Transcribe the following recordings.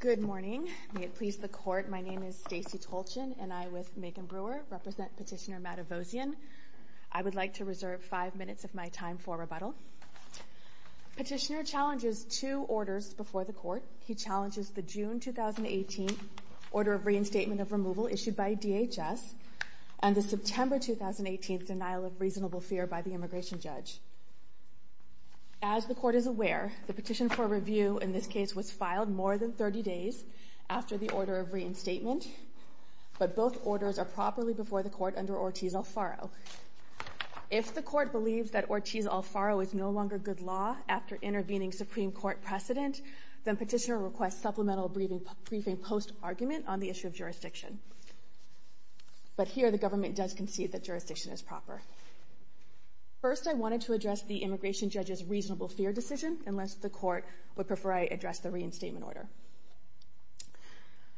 Good morning. May it please the Court, my name is Stacey Tolchin and I, with Megan Brewer, represent Petitioner Matevosyan. I would like to reserve five minutes of my time for rebuttal. Petitioner challenges two orders before the Court. He challenges the June 2018 Order of Reinstatement of Removal issued by DHS and the September 2018 Denial of Reasonable Fear by the Immigration Judge. As the Court is aware, the petition for review in this case was filed more than 30 days after the Order of Reinstatement, but both orders are properly before the Court under Ortiz-Alfaro. If the Court believes that Ortiz-Alfaro is no longer good law after intervening Supreme Court precedent, then Petitioner requests supplemental briefing post-argument on the issue of jurisdiction. But here the government does concede that jurisdiction is proper. First, I wanted to address the Immigration Judge's reasonable fear decision, unless the Court would prefer I address the reinstatement order.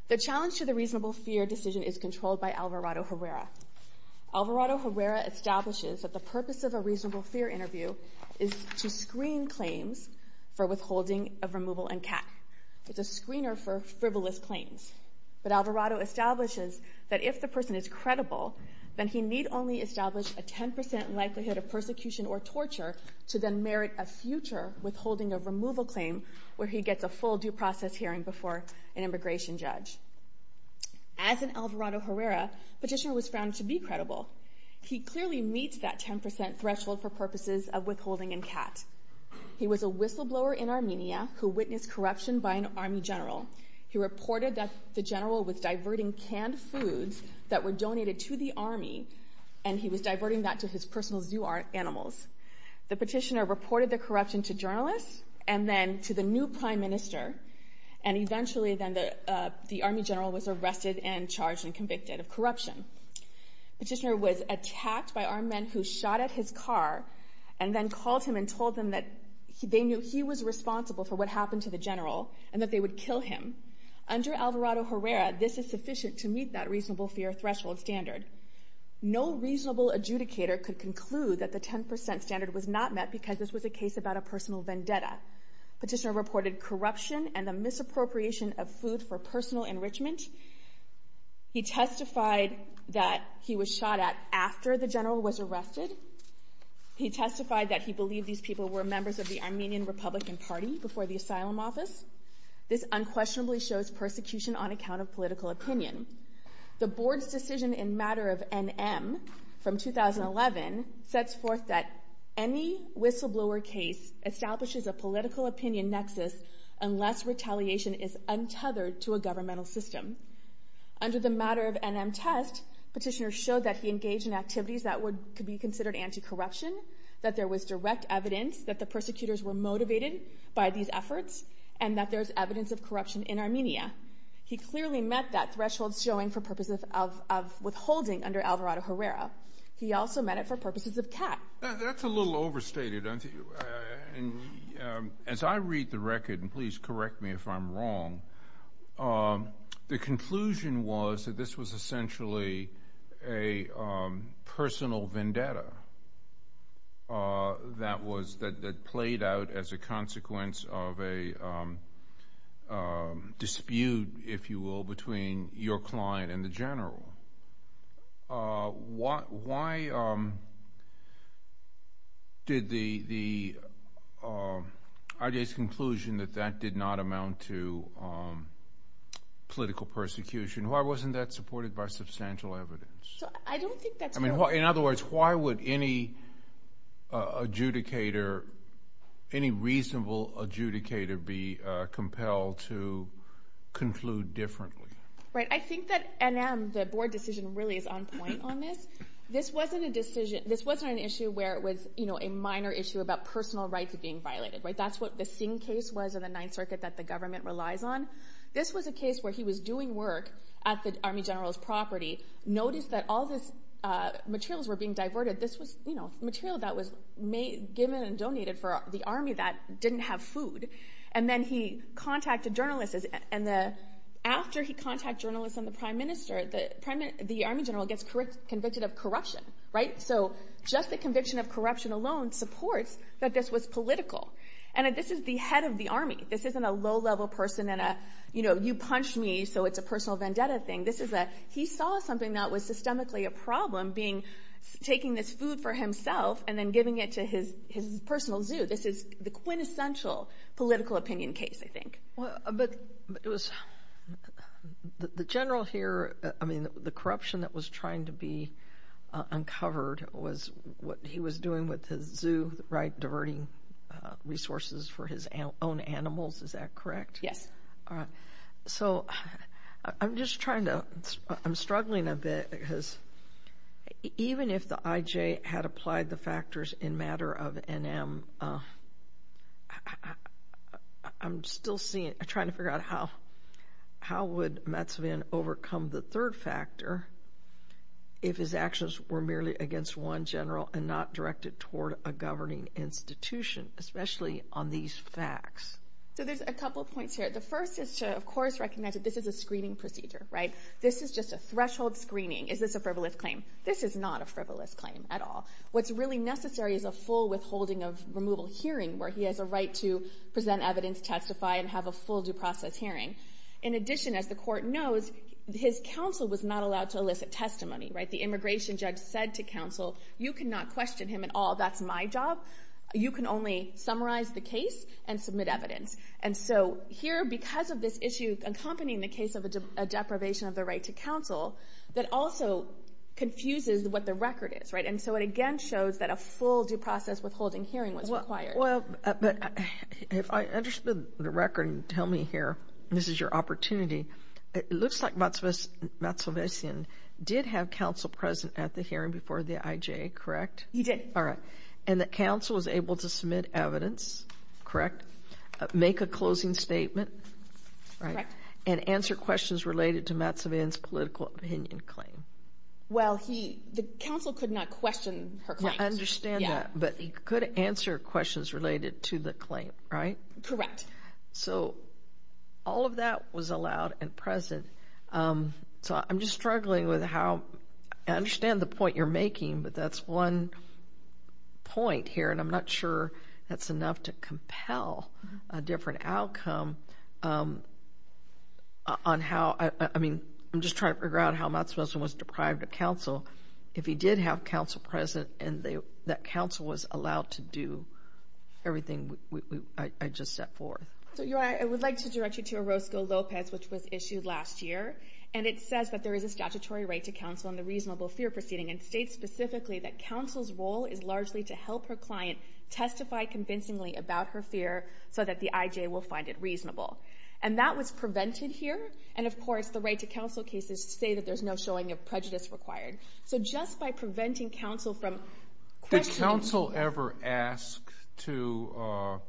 The challenge to the reasonable fear decision is controlled by Alvarado-Herrera. Alvarado-Herrera establishes that the purpose of a reasonable fear interview is to screen claims for withholding of removal and CAC. It's a screener for frivolous claims. But Alvarado establishes that if the person is credible, then he need only establish a 10% likelihood of persecution or torture to then merit a future withholding of removal claim where he gets a full due process hearing before an Immigration Judge. As in Alvarado-Herrera, Petitioner was found to be credible. He clearly meets that 10% threshold for purposes of withholding and CAC. He was a whistleblower in Armenia who witnessed corruption by an army general. He reported that the general was diverting canned foods that were donated to the army and he was diverting that to his personal zoo animals. The petitioner reported the corruption to journalists and then to the new prime minister and eventually then the army general was arrested and charged and convicted of corruption. Petitioner was attacked by armed men who shot at his car and then called him and told him that they knew he was responsible for what happened to the general and that they would kill him. Under Alvarado-Herrera, this is sufficient to meet that reasonable fear threshold standard. No reasonable adjudicator could conclude that the 10% standard was not met because this was a case about a personal vendetta. Petitioner reported corruption and the misappropriation of food for personal enrichment. He testified that he was shot at after the general was arrested. He testified that he believed these people were members of the Armenian Republican Party before the asylum office. This unquestionably shows persecution on account of political opinion. The board's decision in matter of NM from 2011 sets forth that any whistleblower case establishes a political opinion nexus unless retaliation is untethered to a governmental system. Under the matter of NM test, petitioner showed that he engaged in activities that could be considered anti-corruption, that there was direct evidence that the persecutors were motivated by these efforts and that there's evidence of corruption in Armenia. He clearly met that threshold showing for purposes of withholding under Alvarado-Herrera. He also met it for purposes of cat. That's a little overstated. As I read the record, and please correct me if I'm wrong, the conclusion was that this was essentially a personal vendetta that played out as a consequence of a dispute, if you will, between your client and the general. Why did the idea's conclusion that that did not amount to political persecution? Why wasn't that supported by substantial evidence? I don't think that's true. In other words, why would any adjudicator, any reasonable adjudicator be compelled to conclude differently? I think that NM, the board decision, really is on point on this. This wasn't an issue where it was a minor issue about personal rights being violated. That's what the Singh case was in the Ninth Circuit that the government relies on. This was a case where he was doing work at the army general's property, noticed that all these materials were being diverted. This was material that was given and donated for the army that didn't have food. Then he contacted journalists. After he contacted journalists and the prime minister, the army general gets convicted of corruption. Just the conviction of corruption alone supports that this was political. This is the head of the army. This isn't a low-level person and a, you know, you punched me, so it's a personal vendetta thing. He saw something that was systemically a problem, taking this food for himself and then giving it to his personal zoo. So this is the quintessential political opinion case, I think. But the general here, I mean, the corruption that was trying to be uncovered was what he was doing with his zoo, right, diverting resources for his own animals, is that correct? So I'm just trying to—I'm struggling a bit because even if the IJ had applied the factors in matter of NM, I'm still trying to figure out how would Metsvin overcome the third factor if his actions were merely against one general and not directed toward a governing institution, especially on these facts. So there's a couple points here. The first is to, of course, recognize that this is a screening procedure, right? This is just a threshold screening. Is this a frivolous claim? This is not a frivolous claim at all. What's really necessary is a full withholding of removal hearing where he has a right to present evidence, testify, and have a full due process hearing. In addition, as the court knows, his counsel was not allowed to elicit testimony, right? The immigration judge said to counsel, you cannot question him at all, that's my job. You can only summarize the case and submit evidence. And so here, because of this issue accompanying the case of a deprivation of the right to counsel, that also confuses what the record is, right? And so it again shows that a full due process withholding hearing was required. Well, but if I understand the record, tell me here, this is your opportunity. It looks like Metsvin did have counsel present at the hearing before the IJ, correct? He did. All right. And the counsel was able to submit evidence, correct? Make a closing statement? Correct. And answer questions related to Metsvin's political opinion claim? Well, the counsel could not question her claims. Yeah, I understand that. But he could answer questions related to the claim, right? Correct. So all of that was allowed and present. So I'm just struggling with how—I understand the point you're making, but that's one point here, and I'm not sure that's enough to compel a different outcome on how— I mean, I'm just trying to figure out how Metsvin was deprived of counsel. If he did have counsel present and that counsel was allowed to do everything I just set forth. I would like to direct you to Orozco-Lopez, which was issued last year, and it says that there is a statutory right to counsel in the reasonable fear proceeding and states specifically that counsel's role is largely to help her client testify convincingly about her fear so that the IJ will find it reasonable. And that was prevented here. And, of course, the right to counsel cases say that there's no showing of prejudice required. So just by preventing counsel from questioning— Did counsel ever ask to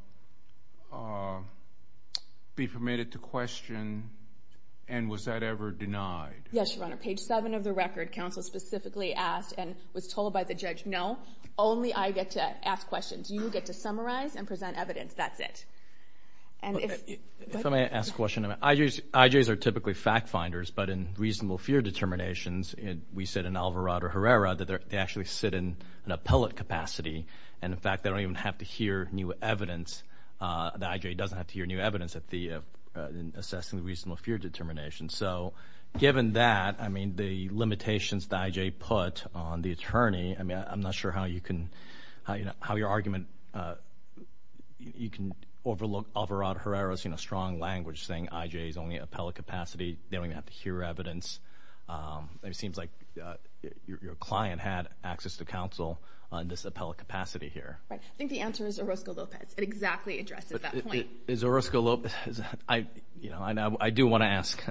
be permitted to question, and was that ever denied? Yes, Your Honor. Page 7 of the record, counsel specifically asked and was told by the judge, no, only I get to ask questions. You get to summarize and present evidence. That's it. If I may ask a question. IJs are typically fact finders, but in reasonable fear determinations, we said in Alvarado-Herrera that they actually sit in an appellate capacity, and, in fact, they don't even have to hear new evidence. The IJ doesn't have to hear new evidence in assessing the reasonable fear determination. So given that, I mean, the limitations the IJ put on the attorney, I mean, I'm not sure how your argument you can overlook Alvarado-Herrera's, you know, strong language saying IJs only have appellate capacity. They don't even have to hear evidence. It seems like your client had access to counsel in this appellate capacity here. I think the answer is Orozco-Lopez. It exactly addresses that point. Is Orozco-Lopez—I do want to ask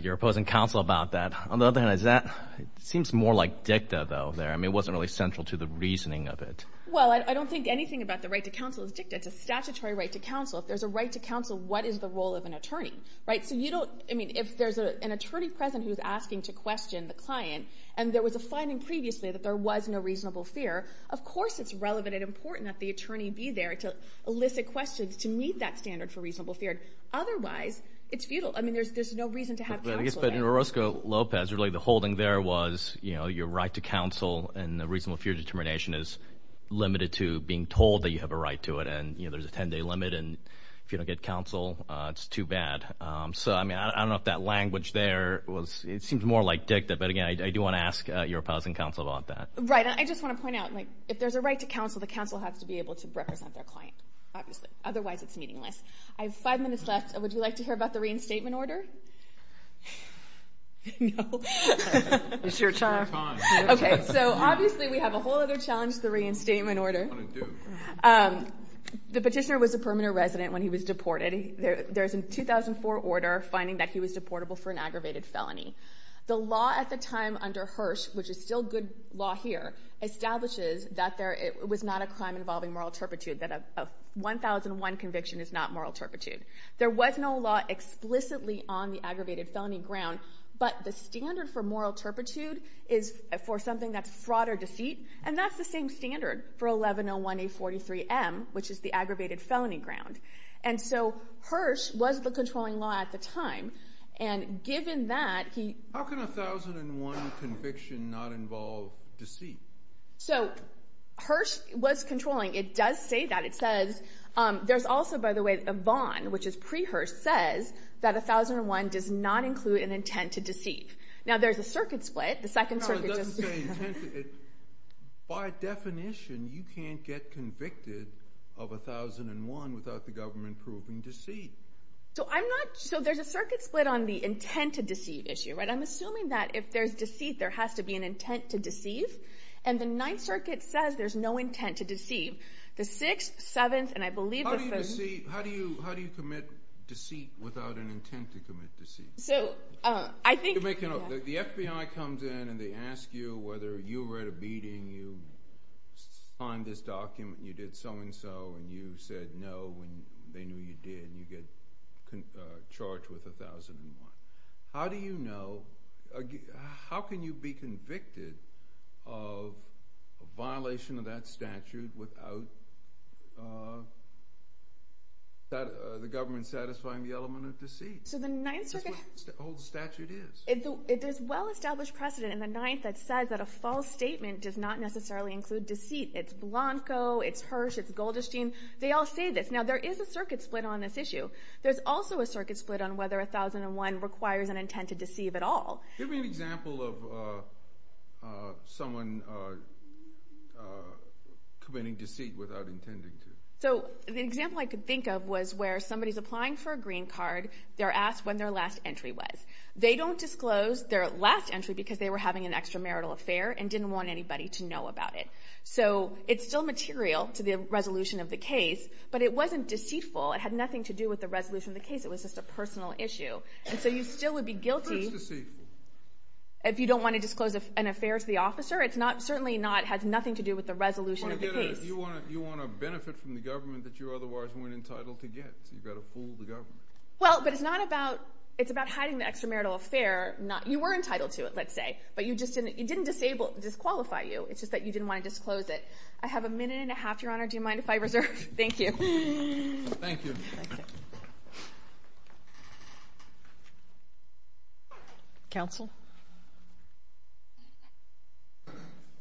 your opposing counsel about that. On the other hand, is that—it seems more like dicta, though, there. I mean, it wasn't really central to the reasoning of it. Well, I don't think anything about the right to counsel is dicta. It's a statutory right to counsel. If there's a right to counsel, what is the role of an attorney, right? So you don't—I mean, if there's an attorney present who's asking to question the client and there was a finding previously that there was no reasonable fear, of course it's relevant and important that the attorney be there to elicit questions, to meet that standard for reasonable fear. Otherwise, it's futile. I mean, there's no reason to have counsel there. Yes, but in Orozco-Lopez, really the holding there was your right to counsel and the reasonable fear determination is limited to being told that you have a right to it, and there's a 10-day limit, and if you don't get counsel, it's too bad. So, I mean, I don't know if that language there was—it seems more like dicta. But, again, I do want to ask your opposing counsel about that. Right. I just want to point out, if there's a right to counsel, the counsel has to be able to represent their client, obviously. Otherwise, it's meaningless. I have five minutes left. Would you like to hear about the reinstatement order? No. It's your time. Okay. So, obviously, we have a whole other challenge to the reinstatement order. The petitioner was a permanent resident when he was deported. There's a 2004 order finding that he was deportable for an aggravated felony. The law at the time under Hirsch, which is still good law here, establishes that it was not a crime involving moral turpitude, that a 1001 conviction is not moral turpitude. There was no law explicitly on the aggravated felony ground, but the standard for moral turpitude is for something that's fraud or deceit, and that's the same standard for 1101A43M, which is the aggravated felony ground. And so Hirsch was the controlling law at the time, and given that, he— How can a 1001 conviction not involve deceit? So, Hirsch was controlling. It does say that. It says—there's also, by the way, a bond, which is pre-Hirsch, says that 1001 does not include an intent to deceive. Now, there's a circuit split. The second circuit just— No, it doesn't say intent. By definition, you can't get convicted of 1001 without the government proving deceit. So I'm not—so there's a circuit split on the intent to deceive issue, right? I'm assuming that if there's deceit, there has to be an intent to deceive, and the Ninth Circuit says there's no intent to deceive. The 6th, 7th, and I believe the 7th— How do you commit deceit without an intent to commit deceit? So I think— The FBI comes in and they ask you whether you read a beating, you signed this document, you did so-and-so, and you said no when they knew you did, and you get charged with 1001. How do you know—how can you be convicted of a violation of that statute without the government satisfying the element of deceit? So the Ninth Circuit— That's what the whole statute is. There's well-established precedent in the Ninth that says that a false statement does not necessarily include deceit. It's Blanco, it's Hirsch, it's Goldstein. Now, there is a circuit split on this issue. There's also a circuit split on whether 1001 requires an intent to deceive at all. Give me an example of someone committing deceit without intending to. So an example I could think of was where somebody's applying for a green card, they're asked when their last entry was. They don't disclose their last entry because they were having an extramarital affair and didn't want anybody to know about it. So it's still material to the resolution of the case, but it wasn't deceitful. It had nothing to do with the resolution of the case. It was just a personal issue. And so you still would be guilty if you don't want to disclose an affair to the officer. It's not—certainly not—has nothing to do with the resolution of the case. You want to benefit from the government that you otherwise weren't entitled to get, so you've got to fool the government. Well, but it's not about—it's about hiding the extramarital affair. You were entitled to it, let's say, but you just didn't—it didn't disqualify you. It's just that you didn't want to disclose it. I have a minute and a half, Your Honor. Do you mind if I reserve? Thank you. Thank you. Counsel.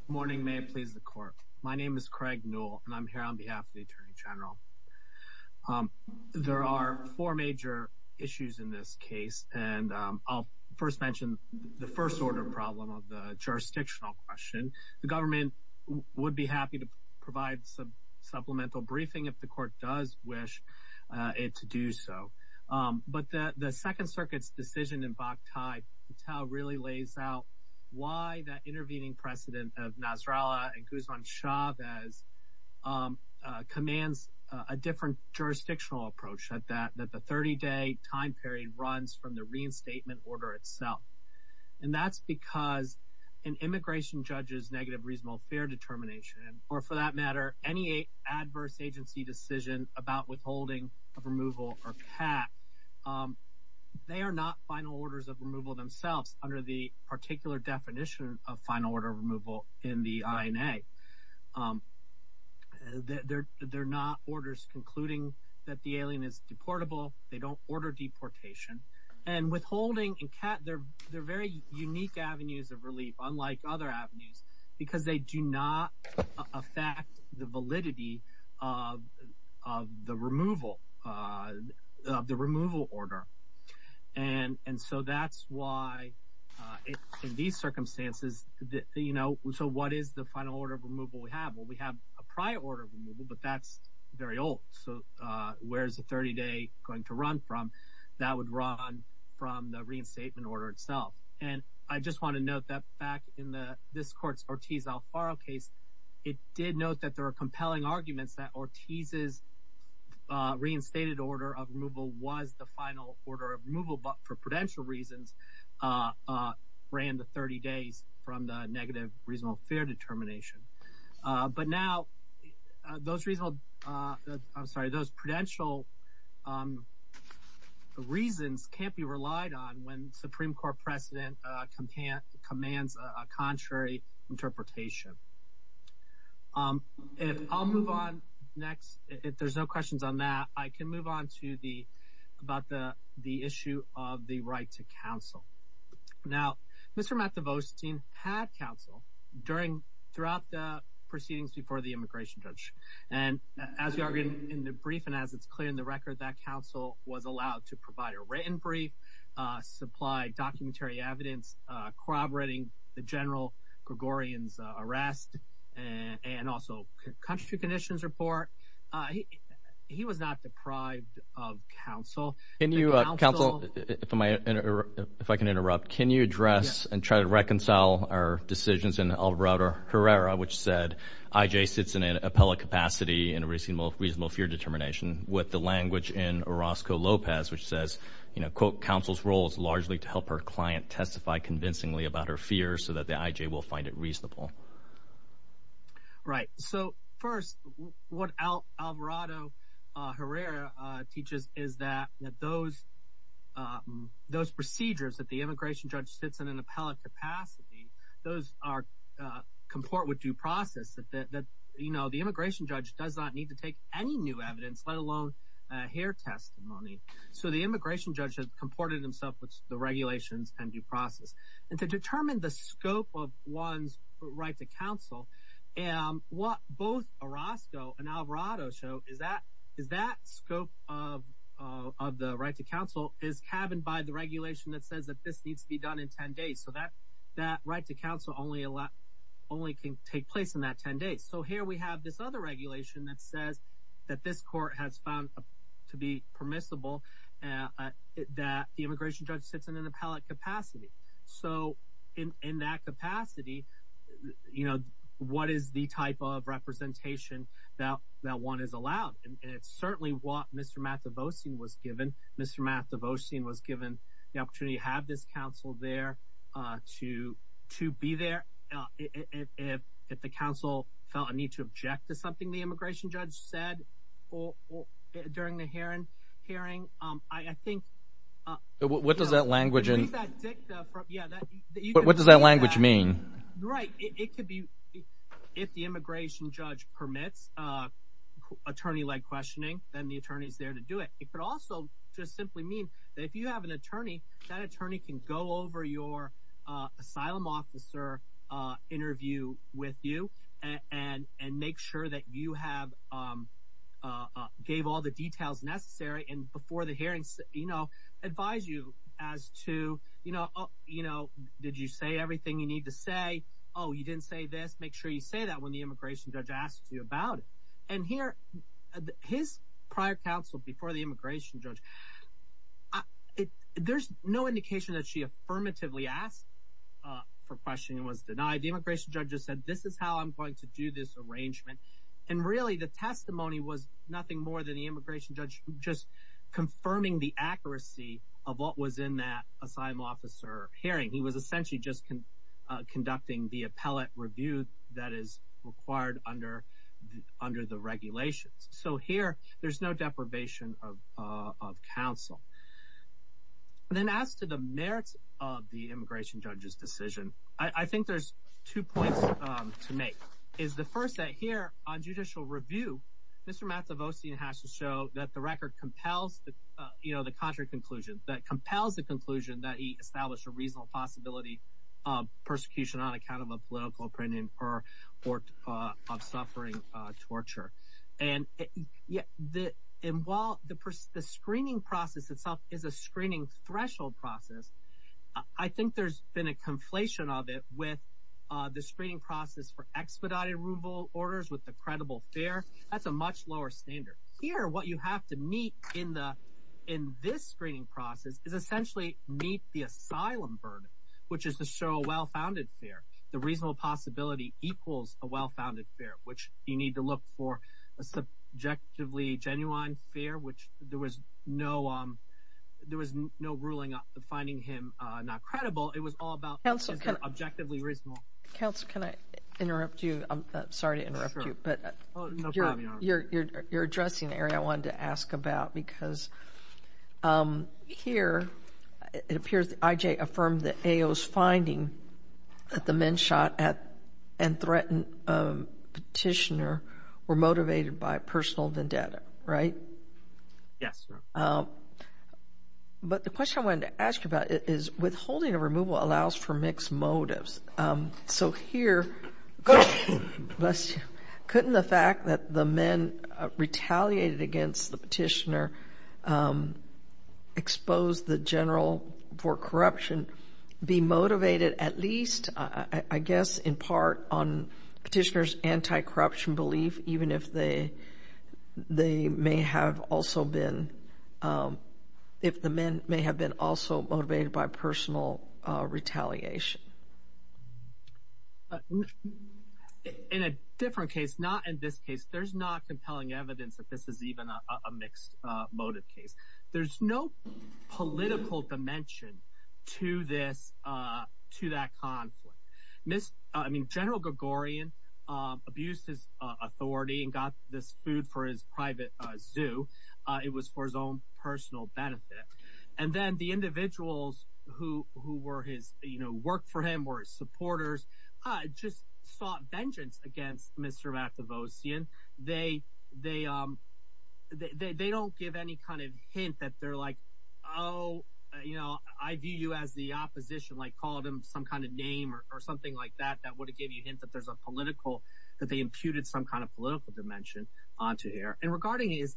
Good morning. May it please the Court. My name is Craig Newell, and I'm here on behalf of the Attorney General. There are four major issues in this case, and I'll first mention the first-order problem of the jurisdictional question. The government would be happy to provide some supplemental briefing if the Court does wish it to do so. But the Second Circuit's decision in Bakhtai-Patel really lays out why that intervening precedent of Nasrallah and Guzman-Chavez commands a different jurisdictional approach, that the 30-day time period runs from the reinstatement order itself. And that's because an immigration judge's negative reasonable fair determination, or for that matter, any adverse agency decision about withholding of removal or CAT, they are not final orders of removal themselves under the particular definition of final order of removal in the INA. They're not orders concluding that the alien is deportable. They don't order deportation. And withholding and CAT, they're very unique avenues of relief, unlike other avenues, because they do not affect the validity of the removal order. And so that's why in these circumstances, you know, so what is the final order of removal we have? Well, we have a prior order of removal, but that's very old. So where is the 30-day going to run from? That would run from the reinstatement order itself. And I just want to note that back in this court's Ortiz-Alfaro case, it did note that there are compelling arguments that Ortiz's reinstated order of removal was the final order of removal, but for prudential reasons, ran the 30 days from the negative reasonable fair determination. But now those reasonable, I'm sorry, those prudential reasons can't be relied on when Supreme Court precedent commands a contrary interpretation. If I'll move on next, if there's no questions on that, I can move on to the, about the issue of the right to counsel. Now, Mr. Matt DeVosteen had counsel during, throughout the proceedings before the immigration judge. And as we argued in the brief and as it's clear in the record, that counsel was allowed to provide a written brief, supply documentary evidence corroborating the general Gregorian's arrest and also country conditions report. He was not deprived of counsel. Can you, counsel, if I can interrupt, can you address and try to reconcile our decisions in Alvarado-Herrera, which said I.J. sits in an appellate capacity in a reasonable fair determination with the language in Orozco-Lopez, which says, you know, quote, counsel's role is largely to help her client testify convincingly about her fear so that the I.J. will find it reasonable. Right. So first, what Alvarado-Herrera teaches is that those, those procedures that the immigration judge sits in an appellate capacity, those are, comport with due process, that, you know, the immigration judge does not need to take any new evidence, let alone hear testimony. So the immigration judge has comported himself with the regulations and due process. And to determine the scope of one's right to counsel, what both Orozco and Alvarado show is that scope of the right to counsel is cabined by the regulation that says that this needs to be done in 10 days. So that right to counsel only can take place in that 10 days. So here we have this other regulation that says that this court has found to be permissible that the immigration judge sits in an appellate capacity. So in that capacity, you know, what is the type of representation that one is allowed? And it's certainly what Mr. Mathevosian was given. Mr. Mathevosian was given the opportunity to have this counsel there, to be there. If the counsel felt a need to object to something the immigration judge said during the hearing, I think. What does that language mean? Right. It could be if the immigration judge permits attorney-led questioning, then the attorney is there to do it. It could also just simply mean that if you have an attorney, that attorney can go over your asylum officer interview with you and make sure that you gave all the details necessary. And before the hearings, you know, advise you as to, you know, did you say everything you need to say? Oh, you didn't say this. Make sure you say that when the immigration judge asks you about it. And here, his prior counsel before the immigration judge, there's no indication that she affirmatively asked for questioning and was denied. The immigration judge just said, this is how I'm going to do this arrangement. And really the testimony was nothing more than the immigration judge just confirming the accuracy of what was in that asylum officer hearing. He was essentially just conducting the appellate review that is required under the regulations. So here, there's no deprivation of counsel. Then as to the merits of the immigration judge's decision, I think there's two points to make. Is the first that here on judicial review, Mr. Mazzavossian has to show that the record compels the, you know, the contrary conclusion that compels the conclusion that he established a reasonable possibility of persecution on account of a political opinion or of suffering torture. And while the screening process itself is a screening threshold process, I think there's been a conflation of it with the screening process for expedited removal orders with the credible fear. That's a much lower standard here. What you have to meet in the, in this screening process is essentially meet the asylum burden, which is to show a well-founded fear. The reasonable possibility equals a well-founded fear, which you need to look for a subjectively genuine fear, which there was no ruling finding him not credible. It was all about objectively reasonable. Counsel, can I interrupt you? I'm sorry to interrupt you, but you're addressing an area I wanted to ask about, because here it appears that IJ affirmed that AO's finding that the men shot and threatened petitioner were motivated by personal vendetta, right? Yes. But the question I wanted to ask you about is withholding a removal allows for mixed motives. So here, couldn't the fact that the men retaliated against the petitioner expose the general for corruption be motivated at least, I guess, in part on petitioner's anti-corruption belief, even if they may have also been, if the men may have been also motivated by personal retaliation? In a different case, not in this case, there's not compelling evidence that this is even a mixed motive case. There's no political dimension to this, to that conflict. General Gregorian abused his authority and got this food for his private zoo. It was for his own personal benefit. And then the individuals who worked for him, were his supporters, just sought vengeance against Mr. Matavosian. They don't give any kind of hint that they're like, oh, I view you as the opposition, like call them some kind of name or something like that, that would give you a hint that there's a political, that they imputed some kind of political dimension onto here. And regarding his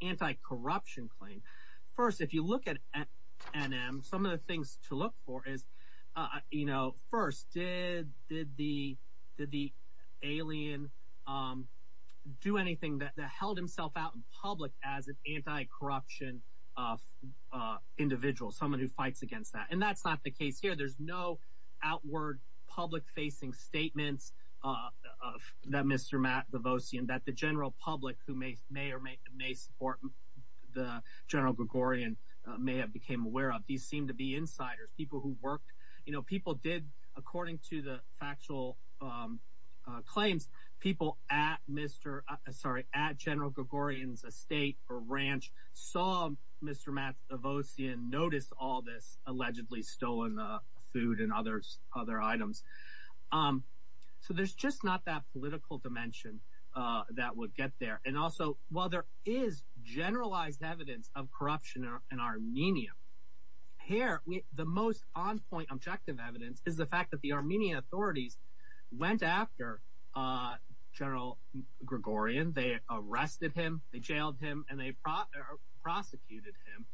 anti-corruption claim. First, if you look at NM, some of the things to look for is, as an anti-corruption individual, someone who fights against that. And that's not the case here. There's no outward public-facing statements that Mr. Matavosian, that the general public who may or may support the General Gregorian, may have became aware of. These seem to be insiders, people who worked. People did, according to the factual claims, people at General Gregorian's estate or ranch saw Mr. Matavosian notice all this allegedly stolen food and other items. So there's just not that political dimension that would get there. And also, while there is generalized evidence of corruption in Armenia, here, the most on-point objective evidence is the fact that the Armenian authorities went after General Gregorian. They arrested him, they jailed him, and they prosecuted him.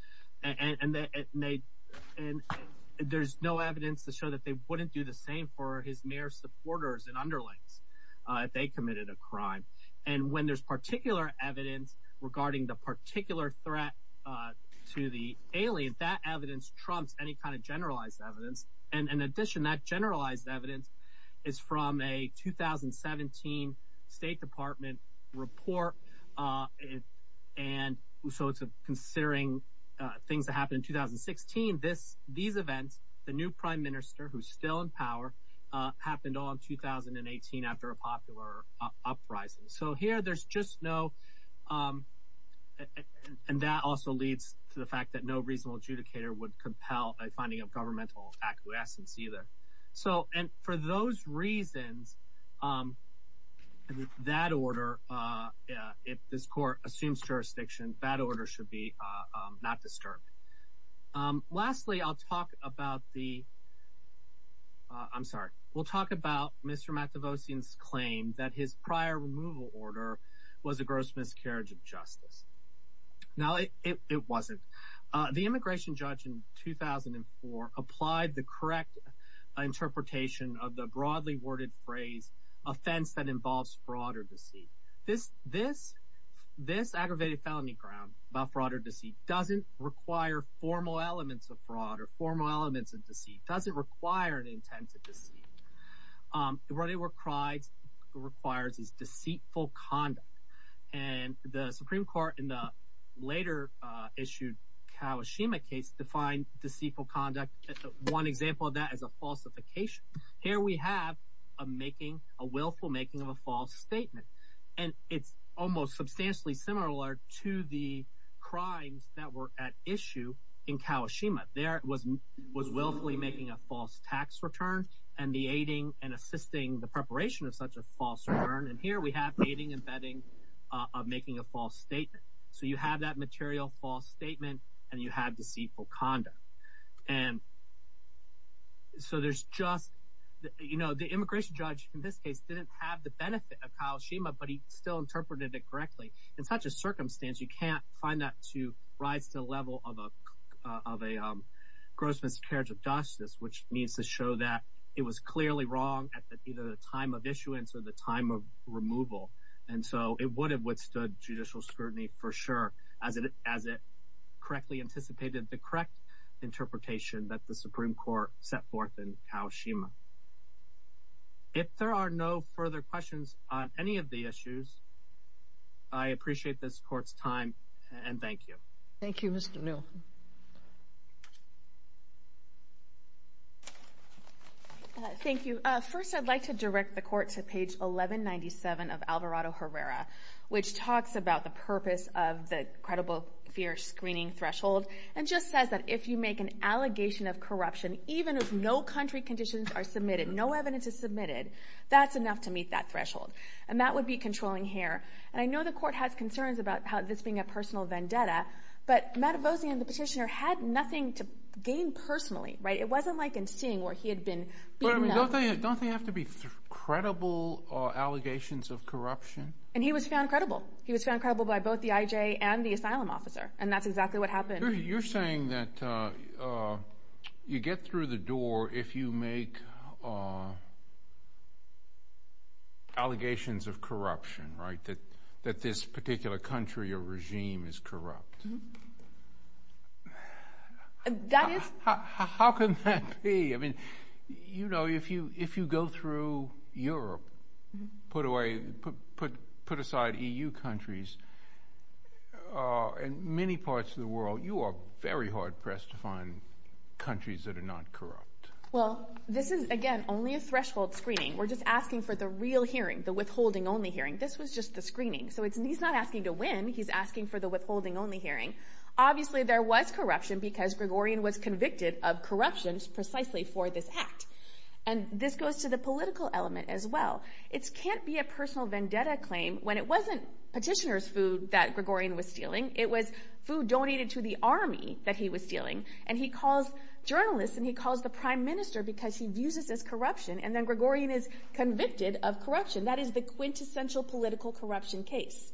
And there's no evidence to show that they wouldn't do the same for his mere supporters and underlings if they committed a crime. And when there's particular evidence regarding the particular threat to the alien, that evidence trumps any kind of generalized evidence. And in addition, that generalized evidence is from a 2017 State Department report. And so considering things that happened in 2016, these events, the new prime minister who's still in power, happened all in 2018 after a popular uprising. So here there's just no... And that also leads to the fact that no reasonable adjudicator would compel a finding of governmental acquiescence either. And for those reasons, that order, if this court assumes jurisdiction, that order should be not disturbed. Lastly, I'll talk about the... I'm sorry. We'll talk about Mr. Mativosian's claim that his prior removal order was a gross miscarriage of justice. Now, it wasn't. The immigration judge in 2004 applied the correct interpretation of the broadly worded phrase, offense that involves fraud or deceit. This aggravated felony ground about fraud or deceit doesn't require formal elements of fraud or formal elements of deceit, doesn't require an intent of deceit. What it requires is deceitful conduct. And the Supreme Court in the later issued Kawashima case defined deceitful conduct, one example of that is a falsification. Here we have a making, a willful making of a false statement. And it's almost substantially similar to the crimes that were at issue in Kawashima. There it was willfully making a false tax return and the aiding and assisting the preparation of such a false return. And here we have aiding and abetting of making a false statement. So you have that material false statement and you have deceitful conduct. And so there's just... The immigration judge in this case didn't have the benefit of Kawashima, but he still interpreted it correctly. In such a circumstance, you can't find that to rise to the level of a gross miscarriage of justice, which means to show that it was clearly wrong at either the time of issuance or the time of removal. And so it would have withstood judicial scrutiny for sure as it correctly anticipated the correct interpretation that the Supreme Court set forth in Kawashima. If there are no further questions on any of the issues, I appreciate this court's time and thank you. Thank you, Mr. Neal. Thank you. First, I'd like to direct the court to page 1197 of Alvarado-Herrera, which talks about the purpose of the credible fear screening threshold and just says that if you make an allegation of corruption, even if no country conditions are submitted, no evidence is submitted, that's enough to meet that threshold. And that would be controlling here. And I know the court has concerns about this being a personal vendetta, but Matavossian, the petitioner, had nothing to gain personally. It wasn't like in Singh where he had been beaten up. Don't they have to be credible allegations of corruption? And he was found credible. He was found credible by both the IJ and the asylum officer, and that's exactly what happened. You're saying that you get through the door if you make allegations of corruption, right, that this particular country or regime is corrupt? That is. How can that be? I mean, you know, if you go through Europe, put aside EU countries, in many parts of the world you are very hard-pressed to find countries that are not corrupt. Well, this is, again, only a threshold screening. We're just asking for the real hearing, the withholding-only hearing. This was just the screening. So he's not asking to win. He's asking for the withholding-only hearing. Obviously there was corruption because Gregorian was convicted of corruption precisely for this act. And this goes to the political element as well. It can't be a personal vendetta claim when it wasn't petitioner's food that Gregorian was stealing. It was food donated to the army that he was stealing. And he calls journalists and he calls the prime minister because he views this as corruption, and then Gregorian is convicted of corruption. That is the quintessential political corruption case.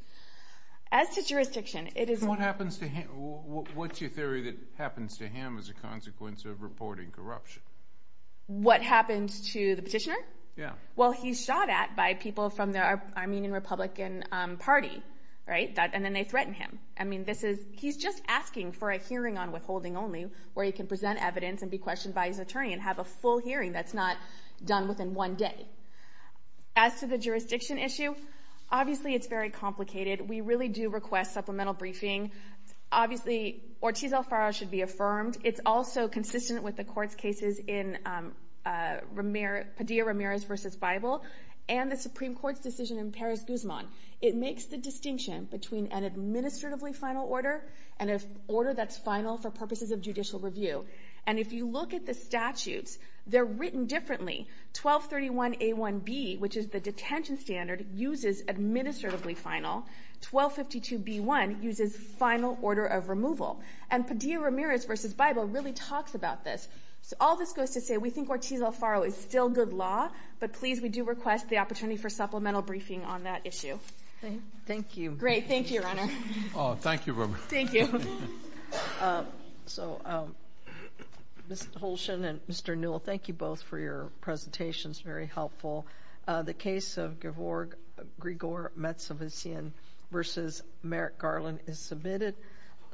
As to jurisdiction, it is... What's your theory that happens to him as a consequence of reporting corruption? What happens to the petitioner? Yeah. Well, he's shot at by people from the Armenian Republican Party, right? And then they threaten him. I mean, he's just asking for a hearing on withholding only where he can present evidence and be questioned by his attorney and have a full hearing that's not done within one day. As to the jurisdiction issue, obviously it's very complicated. We really do request supplemental briefing. Obviously, Ortiz Alfaro should be affirmed. It's also consistent with the court's cases in Padilla-Ramirez v. Bible and the Supreme Court's decision in Paris-Guzman. It makes the distinction between an administratively final order and an order that's final for purposes of judicial review. And if you look at the statutes, they're written differently. 1231A1B, which is the detention standard, uses administratively final. 1252B1 uses final order of removal. And Padilla-Ramirez v. Bible really talks about this. So all this goes to say, we think Ortiz Alfaro is still good law, but please, we do request the opportunity for supplemental briefing on that issue. Thank you. Great. Thank you, Your Honor. Thank you very much. Thank you. So, Mr. Holshen and Mr. Newell, thank you both for your presentations. Very helpful. The case of Grigor Metsovician v. Merrick Garland is submitted.